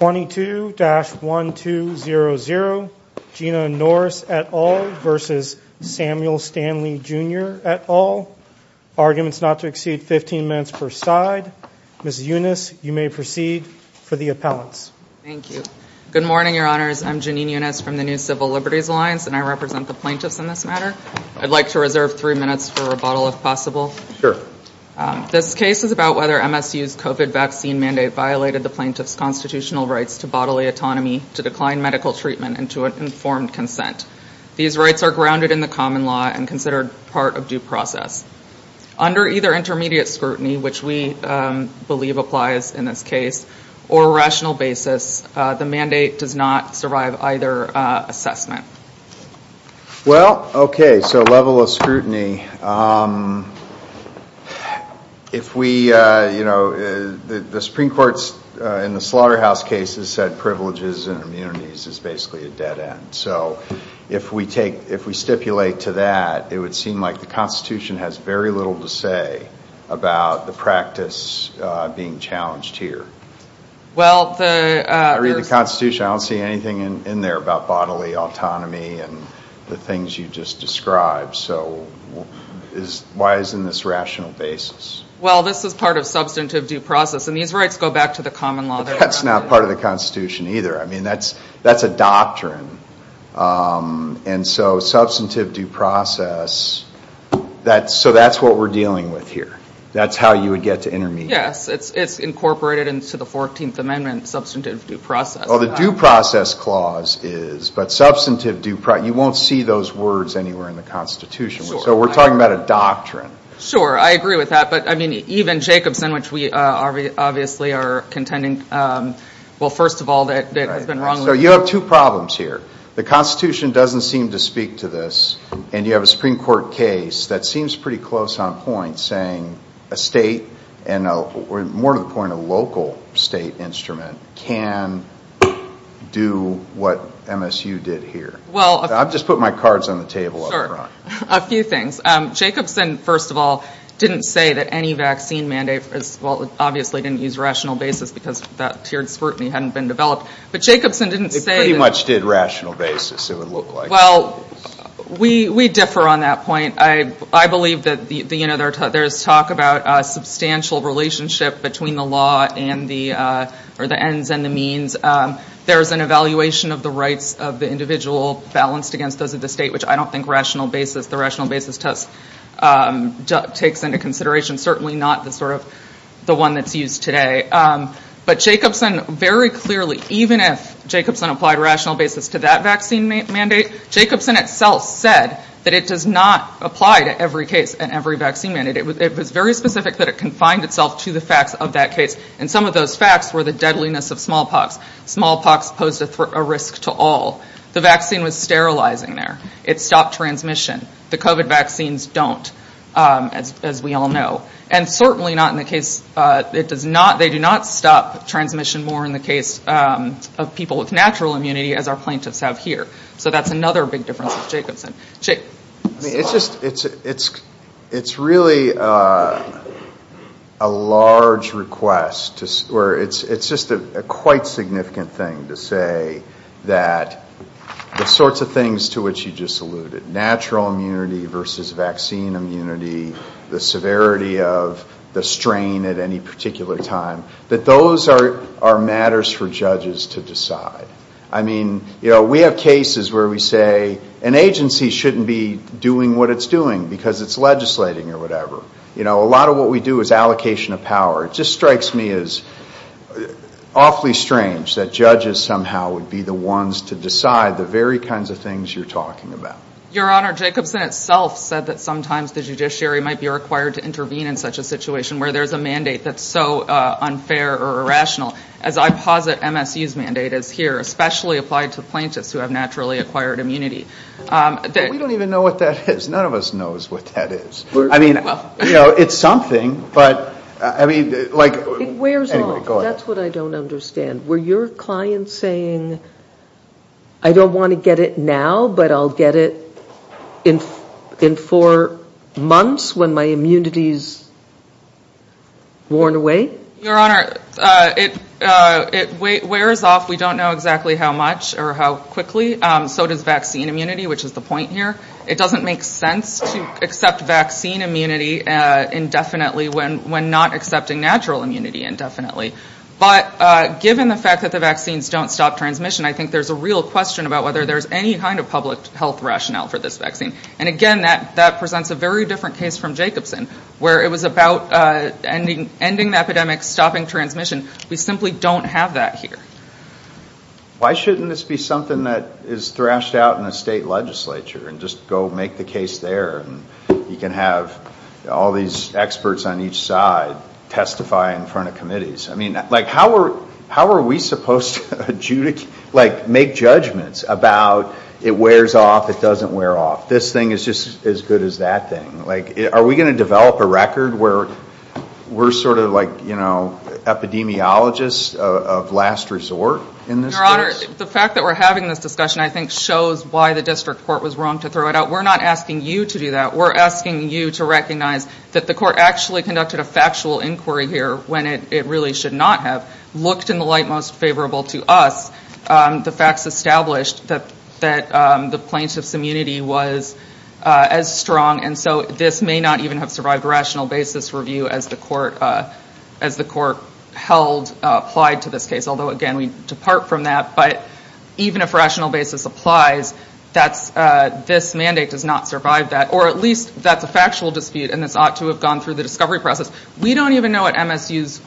22-1200, Jeanna Norris et al. versus Samuel Stanley Jr. et al. Arguments not to exceed 15 minutes per side. Ms. Yunus, you may proceed for the appellants. Thank you. Good morning, Your Honors. I'm Janine Yunus from the New Civil Liberties Alliance and I represent the plaintiffs in this matter. I'd like to reserve three minutes for rebuttal if possible. Sure. This case is about whether MSU's COVID vaccine mandate violated the plaintiff's constitutional rights to bodily autonomy, to decline medical treatment, and to an informed consent. These rights are grounded in the common law and considered part of due process. Under either intermediate scrutiny, which we believe applies in this case, or rational basis, the mandate does not survive either assessment. Well, okay, so level of the Supreme Court's, in the slaughterhouse cases, said privileges and immunities is basically a dead end. So if we take, if we stipulate to that, it would seem like the Constitution has very little to say about the practice being challenged here. Well, I read the Constitution, I don't see anything in there about bodily autonomy and the things you just described. So why is in this rational basis? Well, this is part of substantive due process and these rights go back to the common law. That's not part of the Constitution either. I mean, that's, that's a doctrine and so substantive due process, that's, so that's what we're dealing with here. That's how you would get to intermediate. Yes, it's incorporated into the 14th Amendment, substantive due process. Well, the due process clause is, but substantive due process, you won't see those words anywhere in the Constitution. So we're talking about a doctrine. Sure, I agree with that, but I mean, even Jacobson, which we obviously are contending, well, first of all, that it has been wrongly... So you have two problems here. The Constitution doesn't seem to speak to this and you have a Supreme Court case that seems pretty close on point, saying a state and, more to the point, a local state instrument can do what MSU did here. Well, I've just put my cards on the table. Sure, a few things. Jacobson, first of all, didn't say that any vaccine mandate, well, obviously didn't use rational basis because that tiered scrutiny hadn't been developed, but Jacobson didn't say... He pretty much did rational basis, it would look like. Well, we, we differ on that point. I, I believe that the, you know, there's talk about a substantial relationship between the law and the, or the ends and the means. There's an evaluation of the rights of the individual balanced against those of the state, which I don't think rational basis, the rational basis test takes into consideration, certainly not the sort of the one that's used today. But Jacobson, very clearly, even if Jacobson applied rational basis to that vaccine mandate, Jacobson itself said that it does not apply to every case and every vaccine mandate. It was, it was very specific that it confined itself to the facts of that case. And some of those facts were the deadliness of smallpox. Smallpox posed a risk to all. The vaccine was sterilizing there. It stopped transmission. The COVID vaccines don't, as, as we all know. And certainly not in the case, it does not, they do not stop transmission more in the case of people with natural immunity as our plaintiffs have here. So that's another big difference with Jacobson. It's just, it's, it's, it's really a large request to, or it's, it's just a quite significant thing to say that the sorts of things to which you just alluded, natural immunity versus vaccine immunity, the severity of the strain at any particular time, that those are, are matters for judges to decide. I mean, you know, there are cases where we say an agency shouldn't be doing what it's doing because it's legislating or whatever. You know, a lot of what we do is allocation of power. It just strikes me as awfully strange that judges somehow would be the ones to decide the very kinds of things you're talking about. Your Honor, Jacobson itself said that sometimes the judiciary might be required to intervene in such a situation where there's a mandate that's so unfair or irrational. As I posit MSU's mandate is here, especially applied to plaintiffs who have naturally acquired immunity. We don't even know what that is. None of us knows what that is. I mean, you know, it's something, but, I mean, like... It wears off. That's what I don't understand. Were your clients saying, I don't want to get it now, but I'll get it in, in four months when my immunity's worn away? Your Honor, it wears off. We don't know exactly how much or how quickly. So does vaccine immunity, which is the point here. It doesn't make sense to accept vaccine immunity indefinitely when not accepting natural immunity indefinitely. But given the fact that the vaccines don't stop transmission, I think there's a real question about whether there's any kind of public health rationale for this vaccine. And again, that presents a very different case from Jacobson, where it was about ending the epidemic, stopping transmission. We simply don't have that here. Why shouldn't this be something that is thrashed out in a state legislature and just go make the case there and you can have all these experts on each side testify in front of committees? I mean, like, how are, how are we supposed to adjudicate, like, make judgments about it wears off, it doesn't wear off? This thing is just as good as that thing. Like, are we going to develop a record where we're sort of like, you know, epidemiologists of last resort in this case? Your Honor, the fact that we're having this discussion, I think, shows why the district court was wrong to throw it out. We're not asking you to do that. We're asking you to recognize that the court actually conducted a factual inquiry here when it really should not have. Looked in the light most favorable to us. The facts established that, that the plaintiff's immunity was as strong and so this may not even have survived a rational basis review as the court, as the court held, applied to this case. Although, again, we depart from that, but even if rational basis applies, that's, this mandate does not survive that. Or at least that's a factual dispute and this ought to have gone through the discovery process. We don't even know what MSU's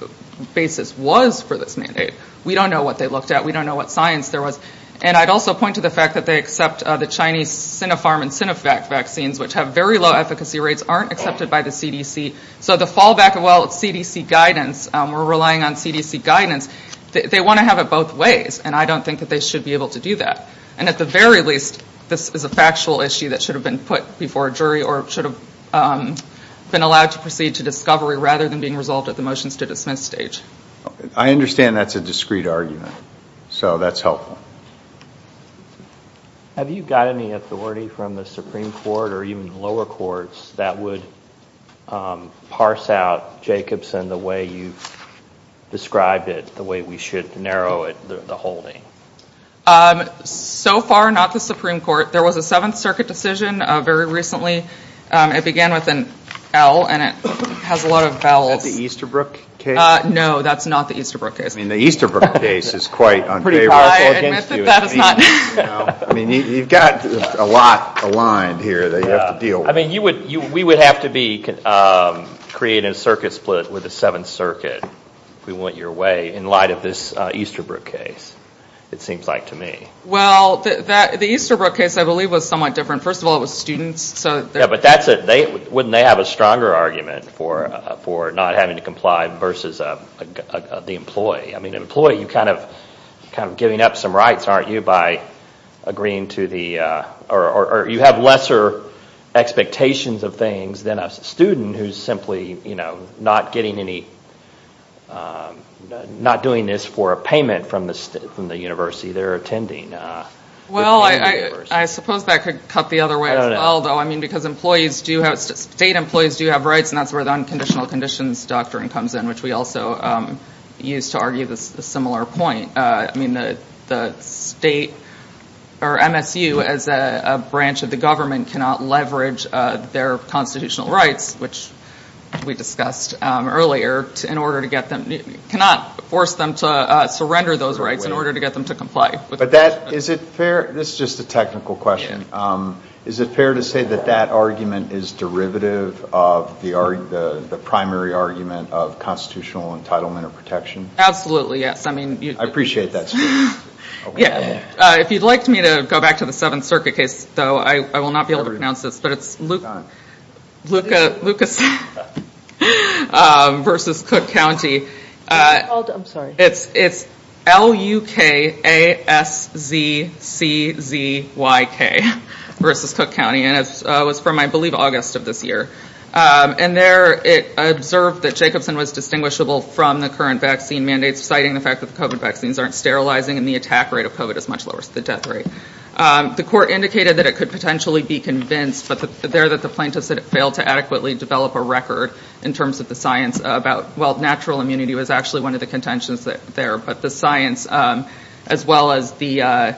basis was for this mandate. We don't know what they looked at. We don't know what science there was. And I'd also point to the fact that they accept the Chinese Sinopharm and Sinovac vaccines, which have very low efficacy rates, aren't accepted by the CDC. So the fallback of, well, it's CDC guidance. We're relying on CDC guidance. They want to have it both ways and I don't think that they should be able to do that. And at the very least, this is a factual issue that should have been put before a jury or should have been allowed to proceed to discovery rather than being resolved at the motions-to-dismiss stage. I understand that's a discrete argument, so that's helpful. Have you got any authority from the Supreme Court or even lower courts that would parse out Jacobson the way you've described it, the way we should narrow it, the holding? So far, not the Supreme Court. There was a Seventh Circuit decision very recently. It began with an L and it has a lot of vowels. Is that the Easterbrook case? No, that's not the Easterbrook case. I mean, the Easterbrook case is quite unfavorable against you. I admit that that is not. I mean, you've got a lot aligned here that you have to deal with. I mean, you would, we would have to be creating a circuit split with the Seventh Circuit, if we want your way, in light of this Easterbrook case, it seems like to me. Well, the Easterbrook case, I believe, was somewhat different. First of all, it was students. Yeah, but that's it. Wouldn't they have a stronger argument for not having to comply versus the employee? I mean, the employee, you're kind of giving up some rights, aren't you, by agreeing to the, or you have lesser expectations of things than a student who's simply, you know, not getting any, not doing this for a payment from the university they're attending. Well, I suppose that could cut the other way as well, though. I mean, because employees do have, state employees do have rights and that's where the Unconditional Conditions Doctrine comes in, which we also use to argue this similar point. I mean, the state, or MSU, as a branch of the government, cannot leverage their constitutional rights, which we discussed earlier, in order to get them, cannot force them to surrender those rights in order to get them to comply. But that, is it fair, this is just a technical question, is it fair to say that that argument is derivative of the primary argument of constitutional entitlement or protection? Absolutely, yes. I mean, I appreciate that. If you'd like me to go back to the Seventh Circuit case, though, I will not be able to pronounce this, but it's Lucas versus Cook County. I'm sorry. It's L-U-K-A-S-Z-C-Z-Y-K versus Cook County and it's from, I believe, August of this year. And there, it observed that Jacobson was distinguishable from the current vaccine mandates, citing the fact that the COVID vaccines aren't sterilizing and the attack rate of COVID is much lower than the death rate. The court indicated that it could potentially be convinced, but there that the plaintiffs had failed to adequately develop a record in terms of the science about, well, natural immunity was actually one of the contentions there, but the science as well as the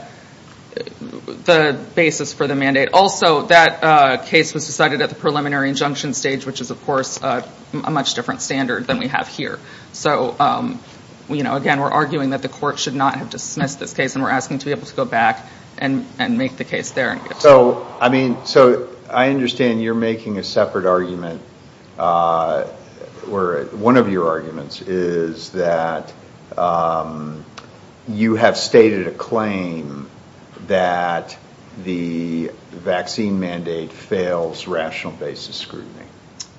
basis for the mandate. Also, that case was decided at the preliminary injunction stage, which is, of course, a much different standard than we have here. So, again, we're arguing that the court should not have dismissed this case and we're asking to be able to go back and make the case there. So, I mean, so I understand you're making a separate argument where one of your arguments is that you have stated a claim that the vaccine mandate fails rational basis scrutiny.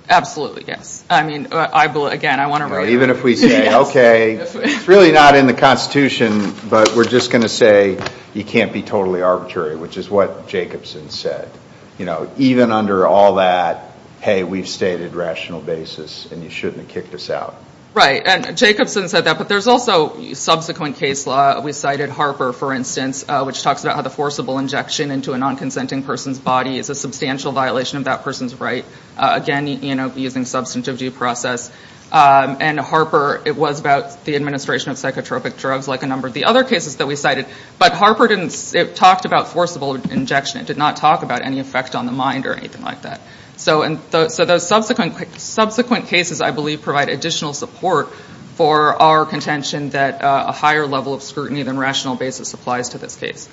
Absolutely, yes. I mean, again, I want to write it. Even if we say, okay, it's really not in the constitution, but we're just going to say you can't be totally arbitrary, which is what Jacobson said. You know, even under all that, hey, we've stated rational basis and you shouldn't have kicked us out. Right, and Jacobson said that, but there's also subsequent case law. We cited Harper, for instance, which talks about how the forcible injection into a non-consenting person's body is a substantial violation of that person's right, again, you know, using substantive due process. And Harper, it was about the administration of psychotropic drugs like a number of the other cases that we cited, but Harper didn't, it talked about forcible injection. It did not talk about any effect on the mind or anything like that. So those subsequent cases, I believe, provide additional support for our contention that a higher level of scrutiny than rational basis applies to this case.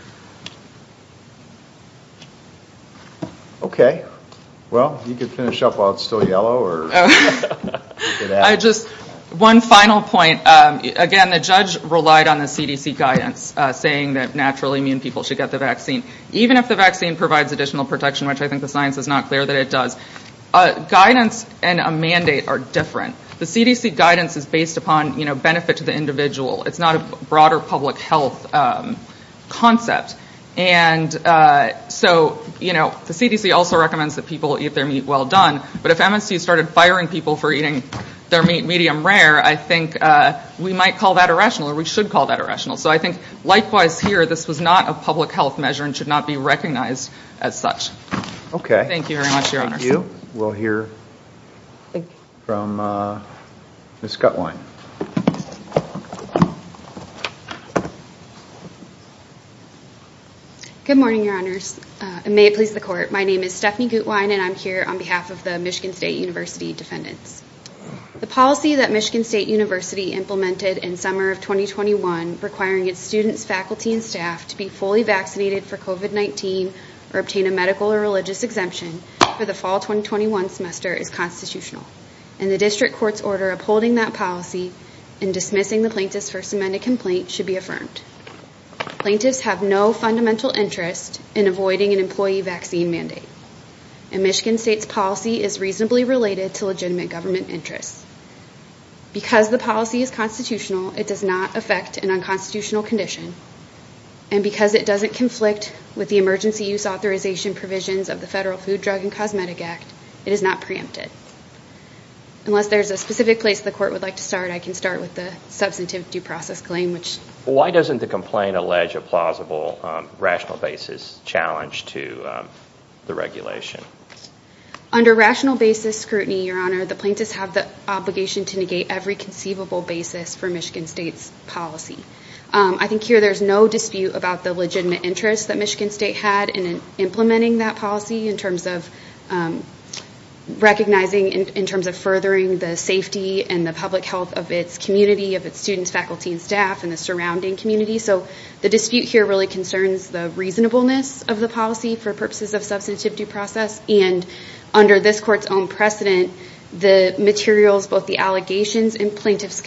Okay, well, you can finish up while it's still yellow or... I just, one final point, again, the judge relied on the CDC guidance saying that natural immune people should get the vaccine, even if the vaccine provides additional protection, which I think the judge is very clear that it does. Guidance and a mandate are different. The CDC guidance is based upon, you know, benefit to the individual. It's not a broader public health concept. And so, you know, the CDC also recommends that people eat their meat well done, but if MSU started firing people for eating their meat medium rare, I think we might call that irrational or we should call that irrational. So I think likewise here, this was not a public health measure and should not be recognized as such. Okay. Thank you very much, Your Honor. Thank you. We'll hear from Ms. Gutwein. Good morning, Your Honors, and may it please the court. My name is Stephanie Gutwein and I'm here on behalf of the Michigan State University defendants. The policy that Michigan State University implemented in summer of 2021 requiring its students, faculty, and staff to be fully vaccinated for COVID-19 or obtain a medical or religious exemption for the fall 2021 semester is constitutional. And the district court's order upholding that policy and dismissing the plaintiff's first amendment complaint should be affirmed. Plaintiffs have no fundamental interest in avoiding an employee vaccine mandate. And Michigan State's policy is reasonably related to legitimate government interests. Because the policy is constitutional, it does not affect an unconstitutional condition. And because it doesn't conflict with the emergency use authorization provisions of the Federal Food, Drug, and Cosmetic Act, it is not preempted. Unless there's a specific place the court would like to start, I can start with the substantive due process claim. Why doesn't the complaint allege a plausible rational basis challenge to the regulation? Under rational basis scrutiny, Your Honor, the plaintiffs have the obligation to negate every conceivable basis for I think here there's no dispute about the legitimate interest that Michigan State had in implementing that policy in terms of recognizing in terms of furthering the safety and the public health of its community, of its students, faculty, and staff, and the surrounding community. So the dispute here really concerns the reasonableness of the policy for purposes of substantive due process. And under this court's own precedent, the materials, both the allegations and plaintiff's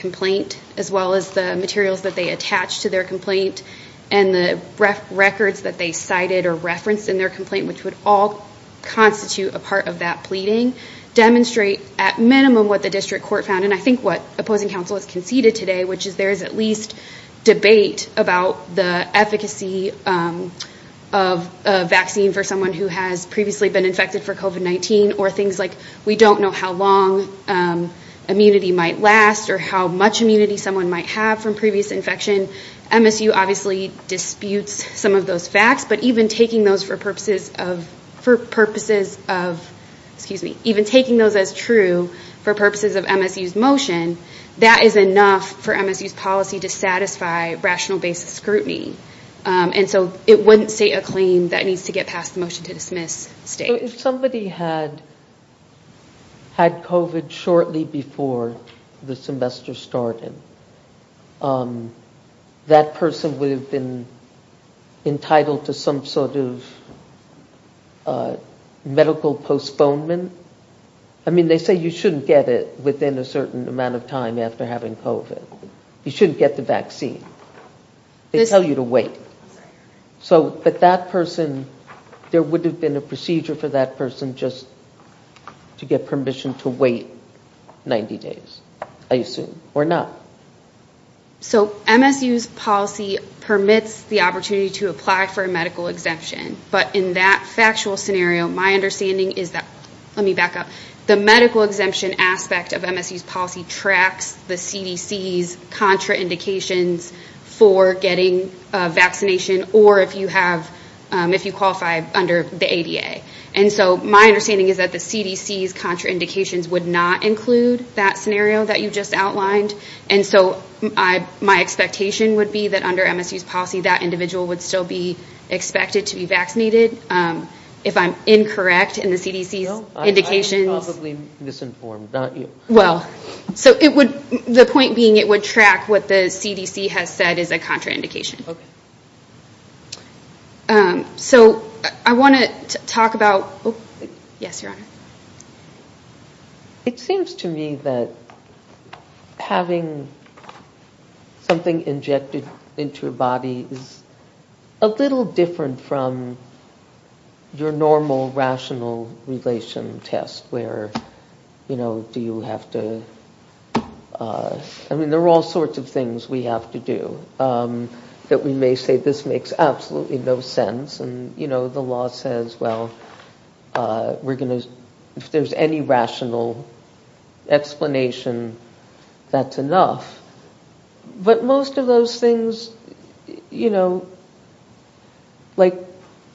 as well as the materials that they attach to their complaint and the records that they cited or referenced in their complaint, which would all constitute a part of that pleading, demonstrate at minimum what the district court found. And I think what opposing counsel has conceded today, which is there is at least debate about the efficacy of a vaccine for someone who has previously been infected for COVID-19 or things like we don't know how long immunity might last or how much immunity someone might have from previous infection. MSU obviously disputes some of those facts, but even taking those for purposes of, for purposes of, excuse me, even taking those as true for purposes of MSU's motion, that is enough for MSU's policy to satisfy rational basis scrutiny. And so it wouldn't state a claim that needs to get past the motion to dismiss. If somebody had had COVID shortly before the semester started, that person would have been entitled to some sort of medical postponement. I mean, they say you shouldn't get it within a certain amount of time after having COVID. You shouldn't get the vaccine. They tell you to wait. So, but that person, there would have been a procedure for that person just to get permission to wait 90 days, I assume, or not. So MSU's policy permits the opportunity to apply for a medical exemption. But in that factual scenario, my understanding is that, let me back up, the medical exemption aspect of MSU's policy tracks the CDC's contraindications for getting a vaccination or if you have, if you qualify under the ADA. And so my understanding is that the CDC's contraindications would not include that scenario that you just outlined. And so I, my expectation would be that under MSU's policy, that individual would still be expected to be vaccinated. If I'm incorrect in the CDC's indications... No, I'm probably misinformed, not you. Well, so it would, the point being, it would track what the CDC has said is a contraindication. Okay. So I want to talk about, yes, Your Honor. It seems to me that having something injected into your body is a little different from your normal rational relation test where, you know, do you have to, I mean, there are all sorts of things we have to do that we may say, this makes absolutely no sense. And, you know, the law says, well, we're going to, if there's any rational explanation, that's enough. But most of those things, you know, like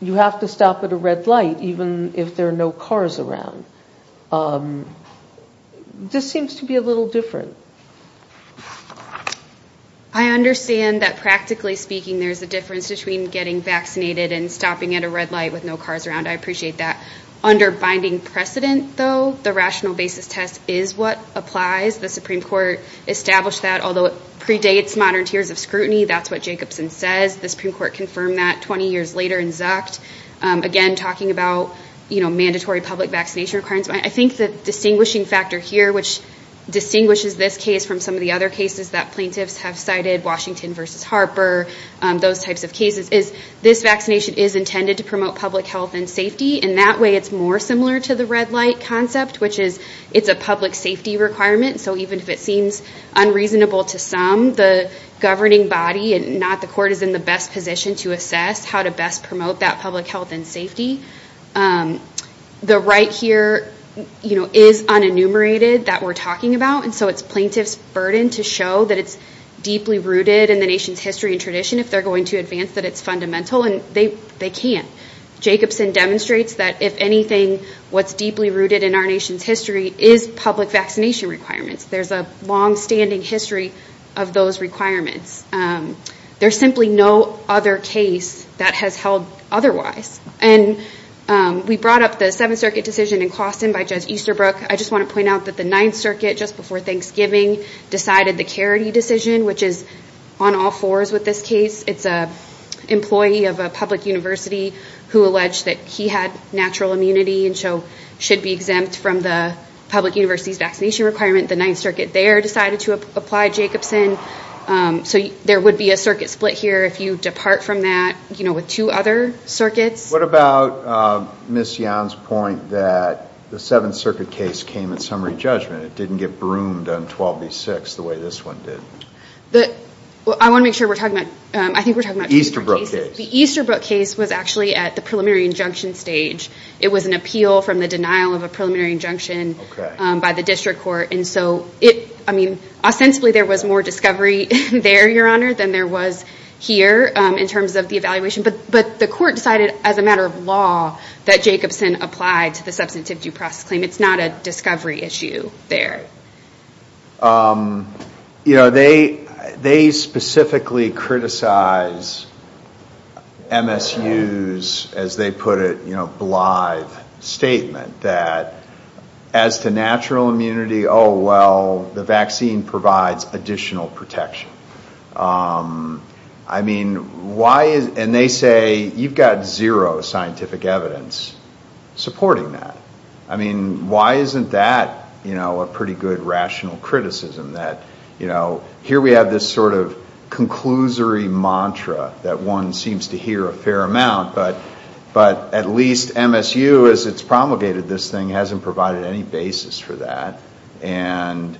you have to stop at a red light, even if there are no cars around. This seems to be a little different. I understand that practically speaking, there's a difference between getting vaccinated and stopping at a red light with no cars around. I appreciate that. Under binding precedent though, the rational basis test is what applies. The Supreme Court established that, although it predates modern tiers of scrutiny, that's what Jacobson says. The Supreme Court confirmed that 20 years later in mandatory public vaccination requirements. I think the distinguishing factor here, which distinguishes this case from some of the other cases that plaintiffs have cited, Washington versus Harper, those types of cases, is this vaccination is intended to promote public health and safety. And that way it's more similar to the red light concept, which is it's a public safety requirement. So even if it seems unreasonable to some, the governing body and not the court is in the best position to assess how to best promote that public health and safety. The right here is unenumerated that we're talking about. And so it's plaintiff's burden to show that it's deeply rooted in the nation's history and tradition if they're going to advance that it's fundamental. And they can't. Jacobson demonstrates that if anything, what's deeply rooted in our nation's history is public vaccination requirements. There's a longstanding history of those requirements. There's simply no other case that has held otherwise. And we brought up the Seventh Circuit decision in Clawson by Judge Easterbrook. I just want to point out that the Ninth Circuit, just before Thanksgiving, decided the Caridy decision, which is on all fours with this case. It's an employee of a public university who alleged that he had natural immunity and so should be exempt from the public university's vaccination requirement. The Ninth Circuit there decided to apply Jacobson. So there would be a circuit split here if you What about Ms. Young's point that the Seventh Circuit case came at summary judgment? It didn't get broomed on 12 v. 6 the way this one did. I want to make sure we're talking about Easterbrook case. The Easterbrook case was actually at the preliminary injunction stage. It was an appeal from the denial of a preliminary injunction by the district court. And so, I mean, ostensibly, there was more discovery there, Your Honor, than there was here in terms of the evaluation. But the court decided, as a matter of law, that Jacobson applied to the substantivity process claim. It's not a discovery issue there. You know, they specifically criticize MSU's, as they put it, you know, blithe statement that, as to natural immunity, oh, well, the vaccine provides additional protection. I mean, why? And they say, you've got zero scientific evidence supporting that. I mean, why isn't that, you know, a pretty good rational criticism that, you know, here we have this sort of conclusory mantra that one seems to hear a fair amount, but at least MSU, as it's promulgated this thing, hasn't provided any basis for that. And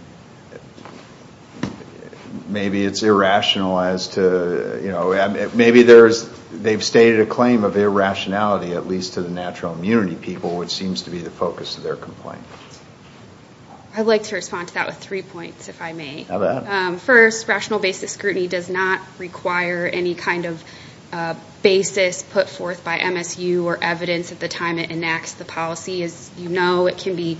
maybe it's irrational as to, you know, maybe there's, they've stated a claim of irrationality, at least to the natural immunity people, which seems to be the focus of their complaint. I'd like to respond to that with three points, if I may. First, rational basis scrutiny does not require any kind of basis put forth by MSU or evidence at the time it enacts the policy. As you know, it can be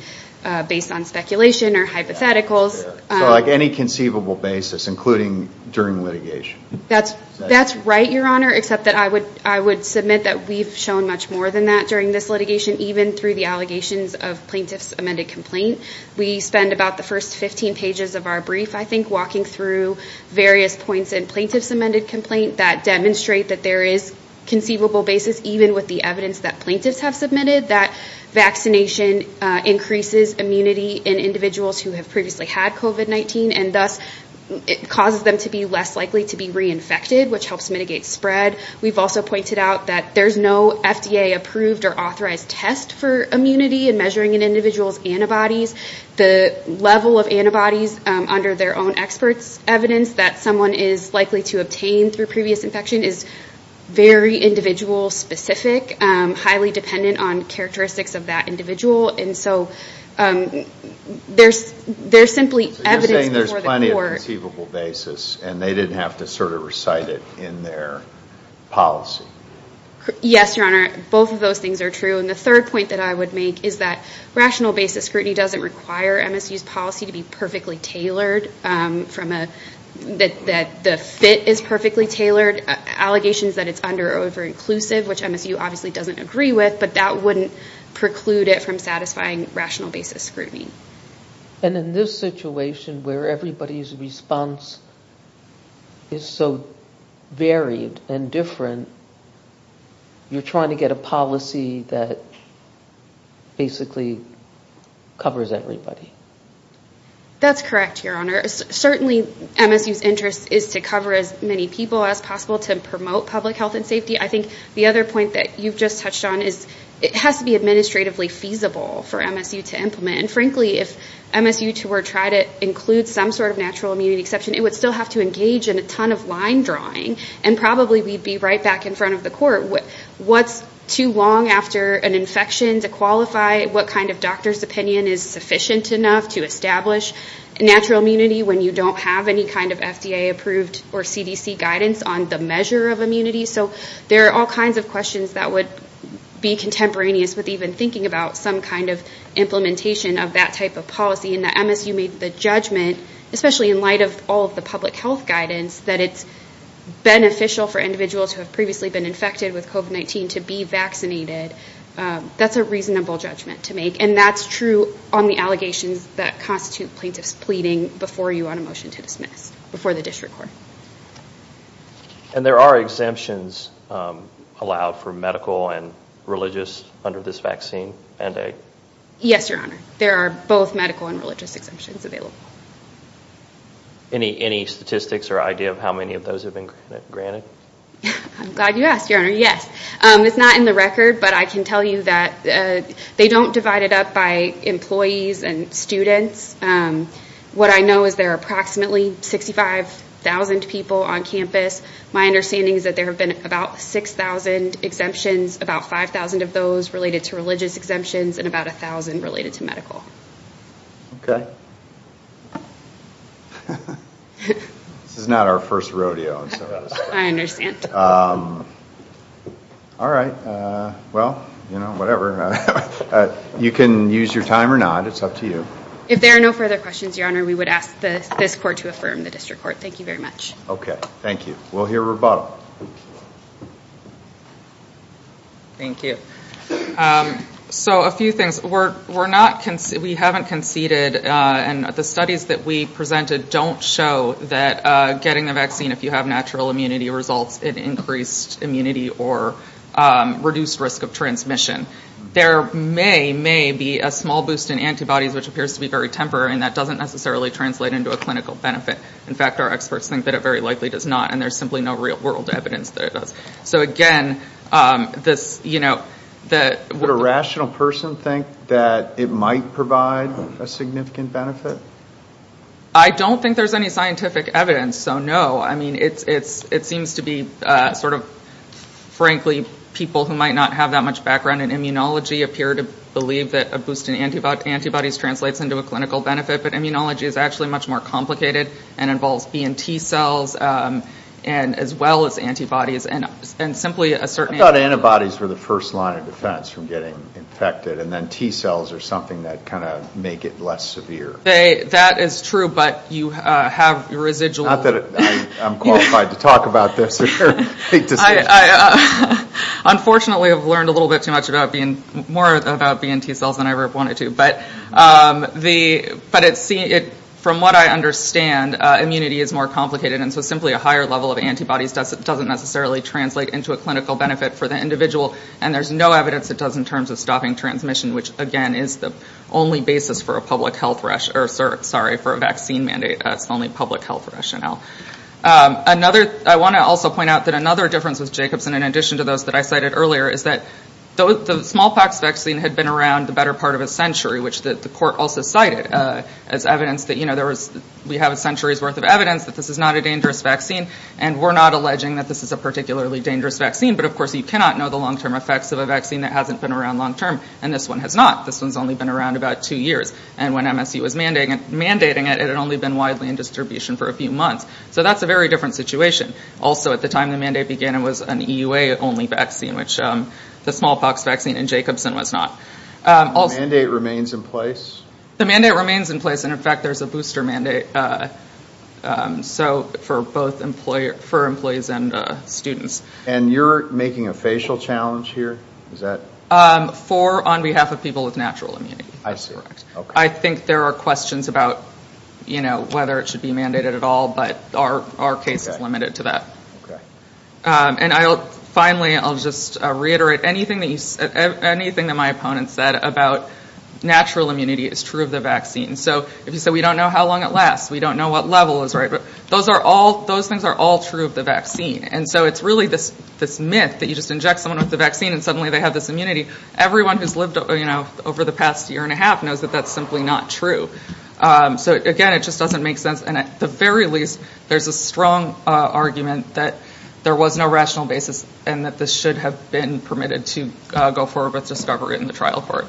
based on speculation or hypotheticals. So like any conceivable basis, including during litigation? That's right, Your Honor, except that I would submit that we've shown much more than that during this litigation, even through the allegations of plaintiff's amended complaint. We spend about the first 15 pages of our brief, I think, walking through various points in plaintiff's amended complaint that demonstrate that there is conceivable basis, even with the evidence that plaintiffs have submitted, that vaccination increases immunity in individuals who have previously had COVID-19, and thus it causes them to be less likely to be reinfected, which helps mitigate spread. We've also pointed out that there's no FDA-approved or authorized test for immunity in measuring an individual's antibodies. The level of antibodies under their own experts' evidence that someone is likely to obtain through previous infection is very individual-specific, highly dependent on characteristics of that individual. And so there's simply evidence before the court. So you're saying there's plenty of conceivable basis and they didn't have to sort of recite it in their policy? Yes, Your Honor. Both of those things are true. And the third point that I would make is that rational basis scrutiny doesn't require MSU's policy to be perfectly tailored, that the fit is perfectly tailored. Allegations that it's under- or over-inclusive, which MSU obviously doesn't agree with, but that wouldn't preclude it from satisfying rational basis scrutiny. And in this situation where everybody's response is so varied and different, you're trying to get a policy that basically covers everybody? That's correct, Your Honor. Certainly MSU's interest is to cover as many people as possible to promote public health and safety. I think the other point that you've just touched on is it has to be administratively feasible for MSU to implement. And frankly, if MSU were to try to include some sort of natural immunity exception, it would still have to engage in a ton of line drawing. And probably we'd be right back in front of the court. What's too long after an infection to qualify what kind of doctor's opinion is sufficient enough to establish natural immunity when you don't have any kind of FDA approved or CDC guidance on the measure of immunity? So there are all kinds of questions that would be contemporaneous with even thinking about some kind of implementation of that type of policy. And that MSU made the judgment, especially in light of all of the public health guidance, that it's beneficial for individuals who have previously been infected with COVID-19 to be vaccinated. That's a reasonable judgment to make. And that's true on the allegations that constitute plaintiffs pleading before you on a motion to dismiss, before the district court. And there are exemptions allowed for medical and religious under this vaccine mandate? Yes, Your Honor. There are both medical and religious exemptions available. Any statistics or idea of how many of those have been granted? I'm glad you asked, Your Honor. Yes. It's not in the record, but I can tell you that they don't divide it up by employees and students. What I know is there are approximately 65,000 people on campus. My understanding is that there have been about 6,000 exemptions, about 5,000 of those related to religious exemptions, and about 1,000 related to medical. Okay. This is not our first rodeo. I understand. All right. Well, you know, whatever. You can use your time or not. It's up to you. If there are no further questions, Your Honor, we would ask this court to affirm the district court. Thank you very much. Okay. Thank you. We'll hear a rebuttal. Thank you. So a few things. We haven't conceded, and the studies that we presented don't show that getting the vaccine, if you have natural immunity results, it increased immunity or reduced risk of transmission. There may, may be a small boost in antibodies, which appears to be very temporary, and that doesn't necessarily translate into a clinical benefit. In fact, our experts think that it very likely does not, and there's simply no real-world evidence that it does. So again, this, you know, that... Would a rational person think that it might provide a significant benefit? I don't think there's any scientific evidence, so no. I mean, it seems to be sort of, frankly, people who might not have that much background in immunology appear to believe that a boost in antibodies translates into a clinical benefit, but immunology is actually much more complicated and involves B and T cells, and as well as antibodies, and simply a certain... I thought antibodies were the first line of defense from getting infected, and then T cells are something that kind of make it less severe. That is true, but you have residual... Not that I'm qualified to talk about this. Unfortunately, I've learned a little bit too much about being, more about B and T cells than I ever wanted to, but from what I understand, immunity is more complicated, and so simply a higher level of antibodies doesn't necessarily translate into a clinical benefit for the individual, and there's no evidence it does in terms of stopping transmission, which, again, is the only basis for a public health rush, or sorry, for a vaccine mandate. It's the only public health rationale. I want to also point out that another difference with Jacobson, in addition to those I cited earlier, is that the smallpox vaccine had been around the better part of a century, which the court also cited as evidence that we have a century's worth of evidence that this is not a dangerous vaccine, and we're not alleging that this is a particularly dangerous vaccine, but of course, you cannot know the long-term effects of a vaccine that hasn't been around long-term, and this one has not. This one's only been around about two years, and when MSU was mandating it, it had only been widely in distribution for a few months, so that's a very different situation. Also, at the time the mandate began, it was an EUA-only vaccine, which the smallpox vaccine in Jacobson was not. The mandate remains in place? The mandate remains in place, and in fact, there's a booster mandate for both employees and students. And you're making a facial challenge here? Is that? For on behalf of people with natural immunity. I see. I think there are questions about, you know, whether it should be mandated at all, our case is limited to that. And finally, I'll just reiterate anything that my opponent said about natural immunity is true of the vaccine. So if you say, we don't know how long it lasts, we don't know what level is right, but those things are all true of the vaccine, and so it's really this myth that you just inject someone with the vaccine, and suddenly they have this immunity. Everyone who's lived over the past year and a half knows that that's simply not true. So again, it just doesn't make sense. And at the very least, there's a strong argument that there was no rational basis and that this should have been permitted to go forward with discovery in the trial court.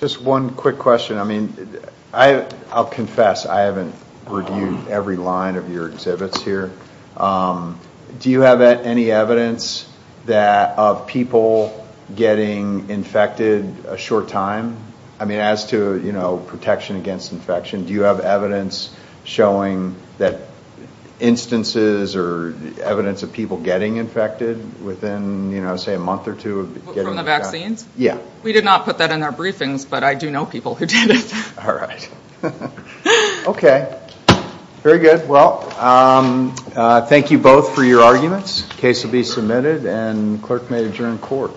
Just one quick question. I mean, I'll confess, I haven't reviewed every line of your exhibits here. Do you have any evidence of people getting infected a short time? I mean, as to, you know, protection against infection, do you have evidence showing that instances or evidence of people getting infected within, you know, say a month or two? From the vaccines? Yeah. We did not put that in our briefings, but I do know people who did it. All right. Okay. Very good. Well, thank you both for your arguments. Case will be submitted and clerk may adjourn court.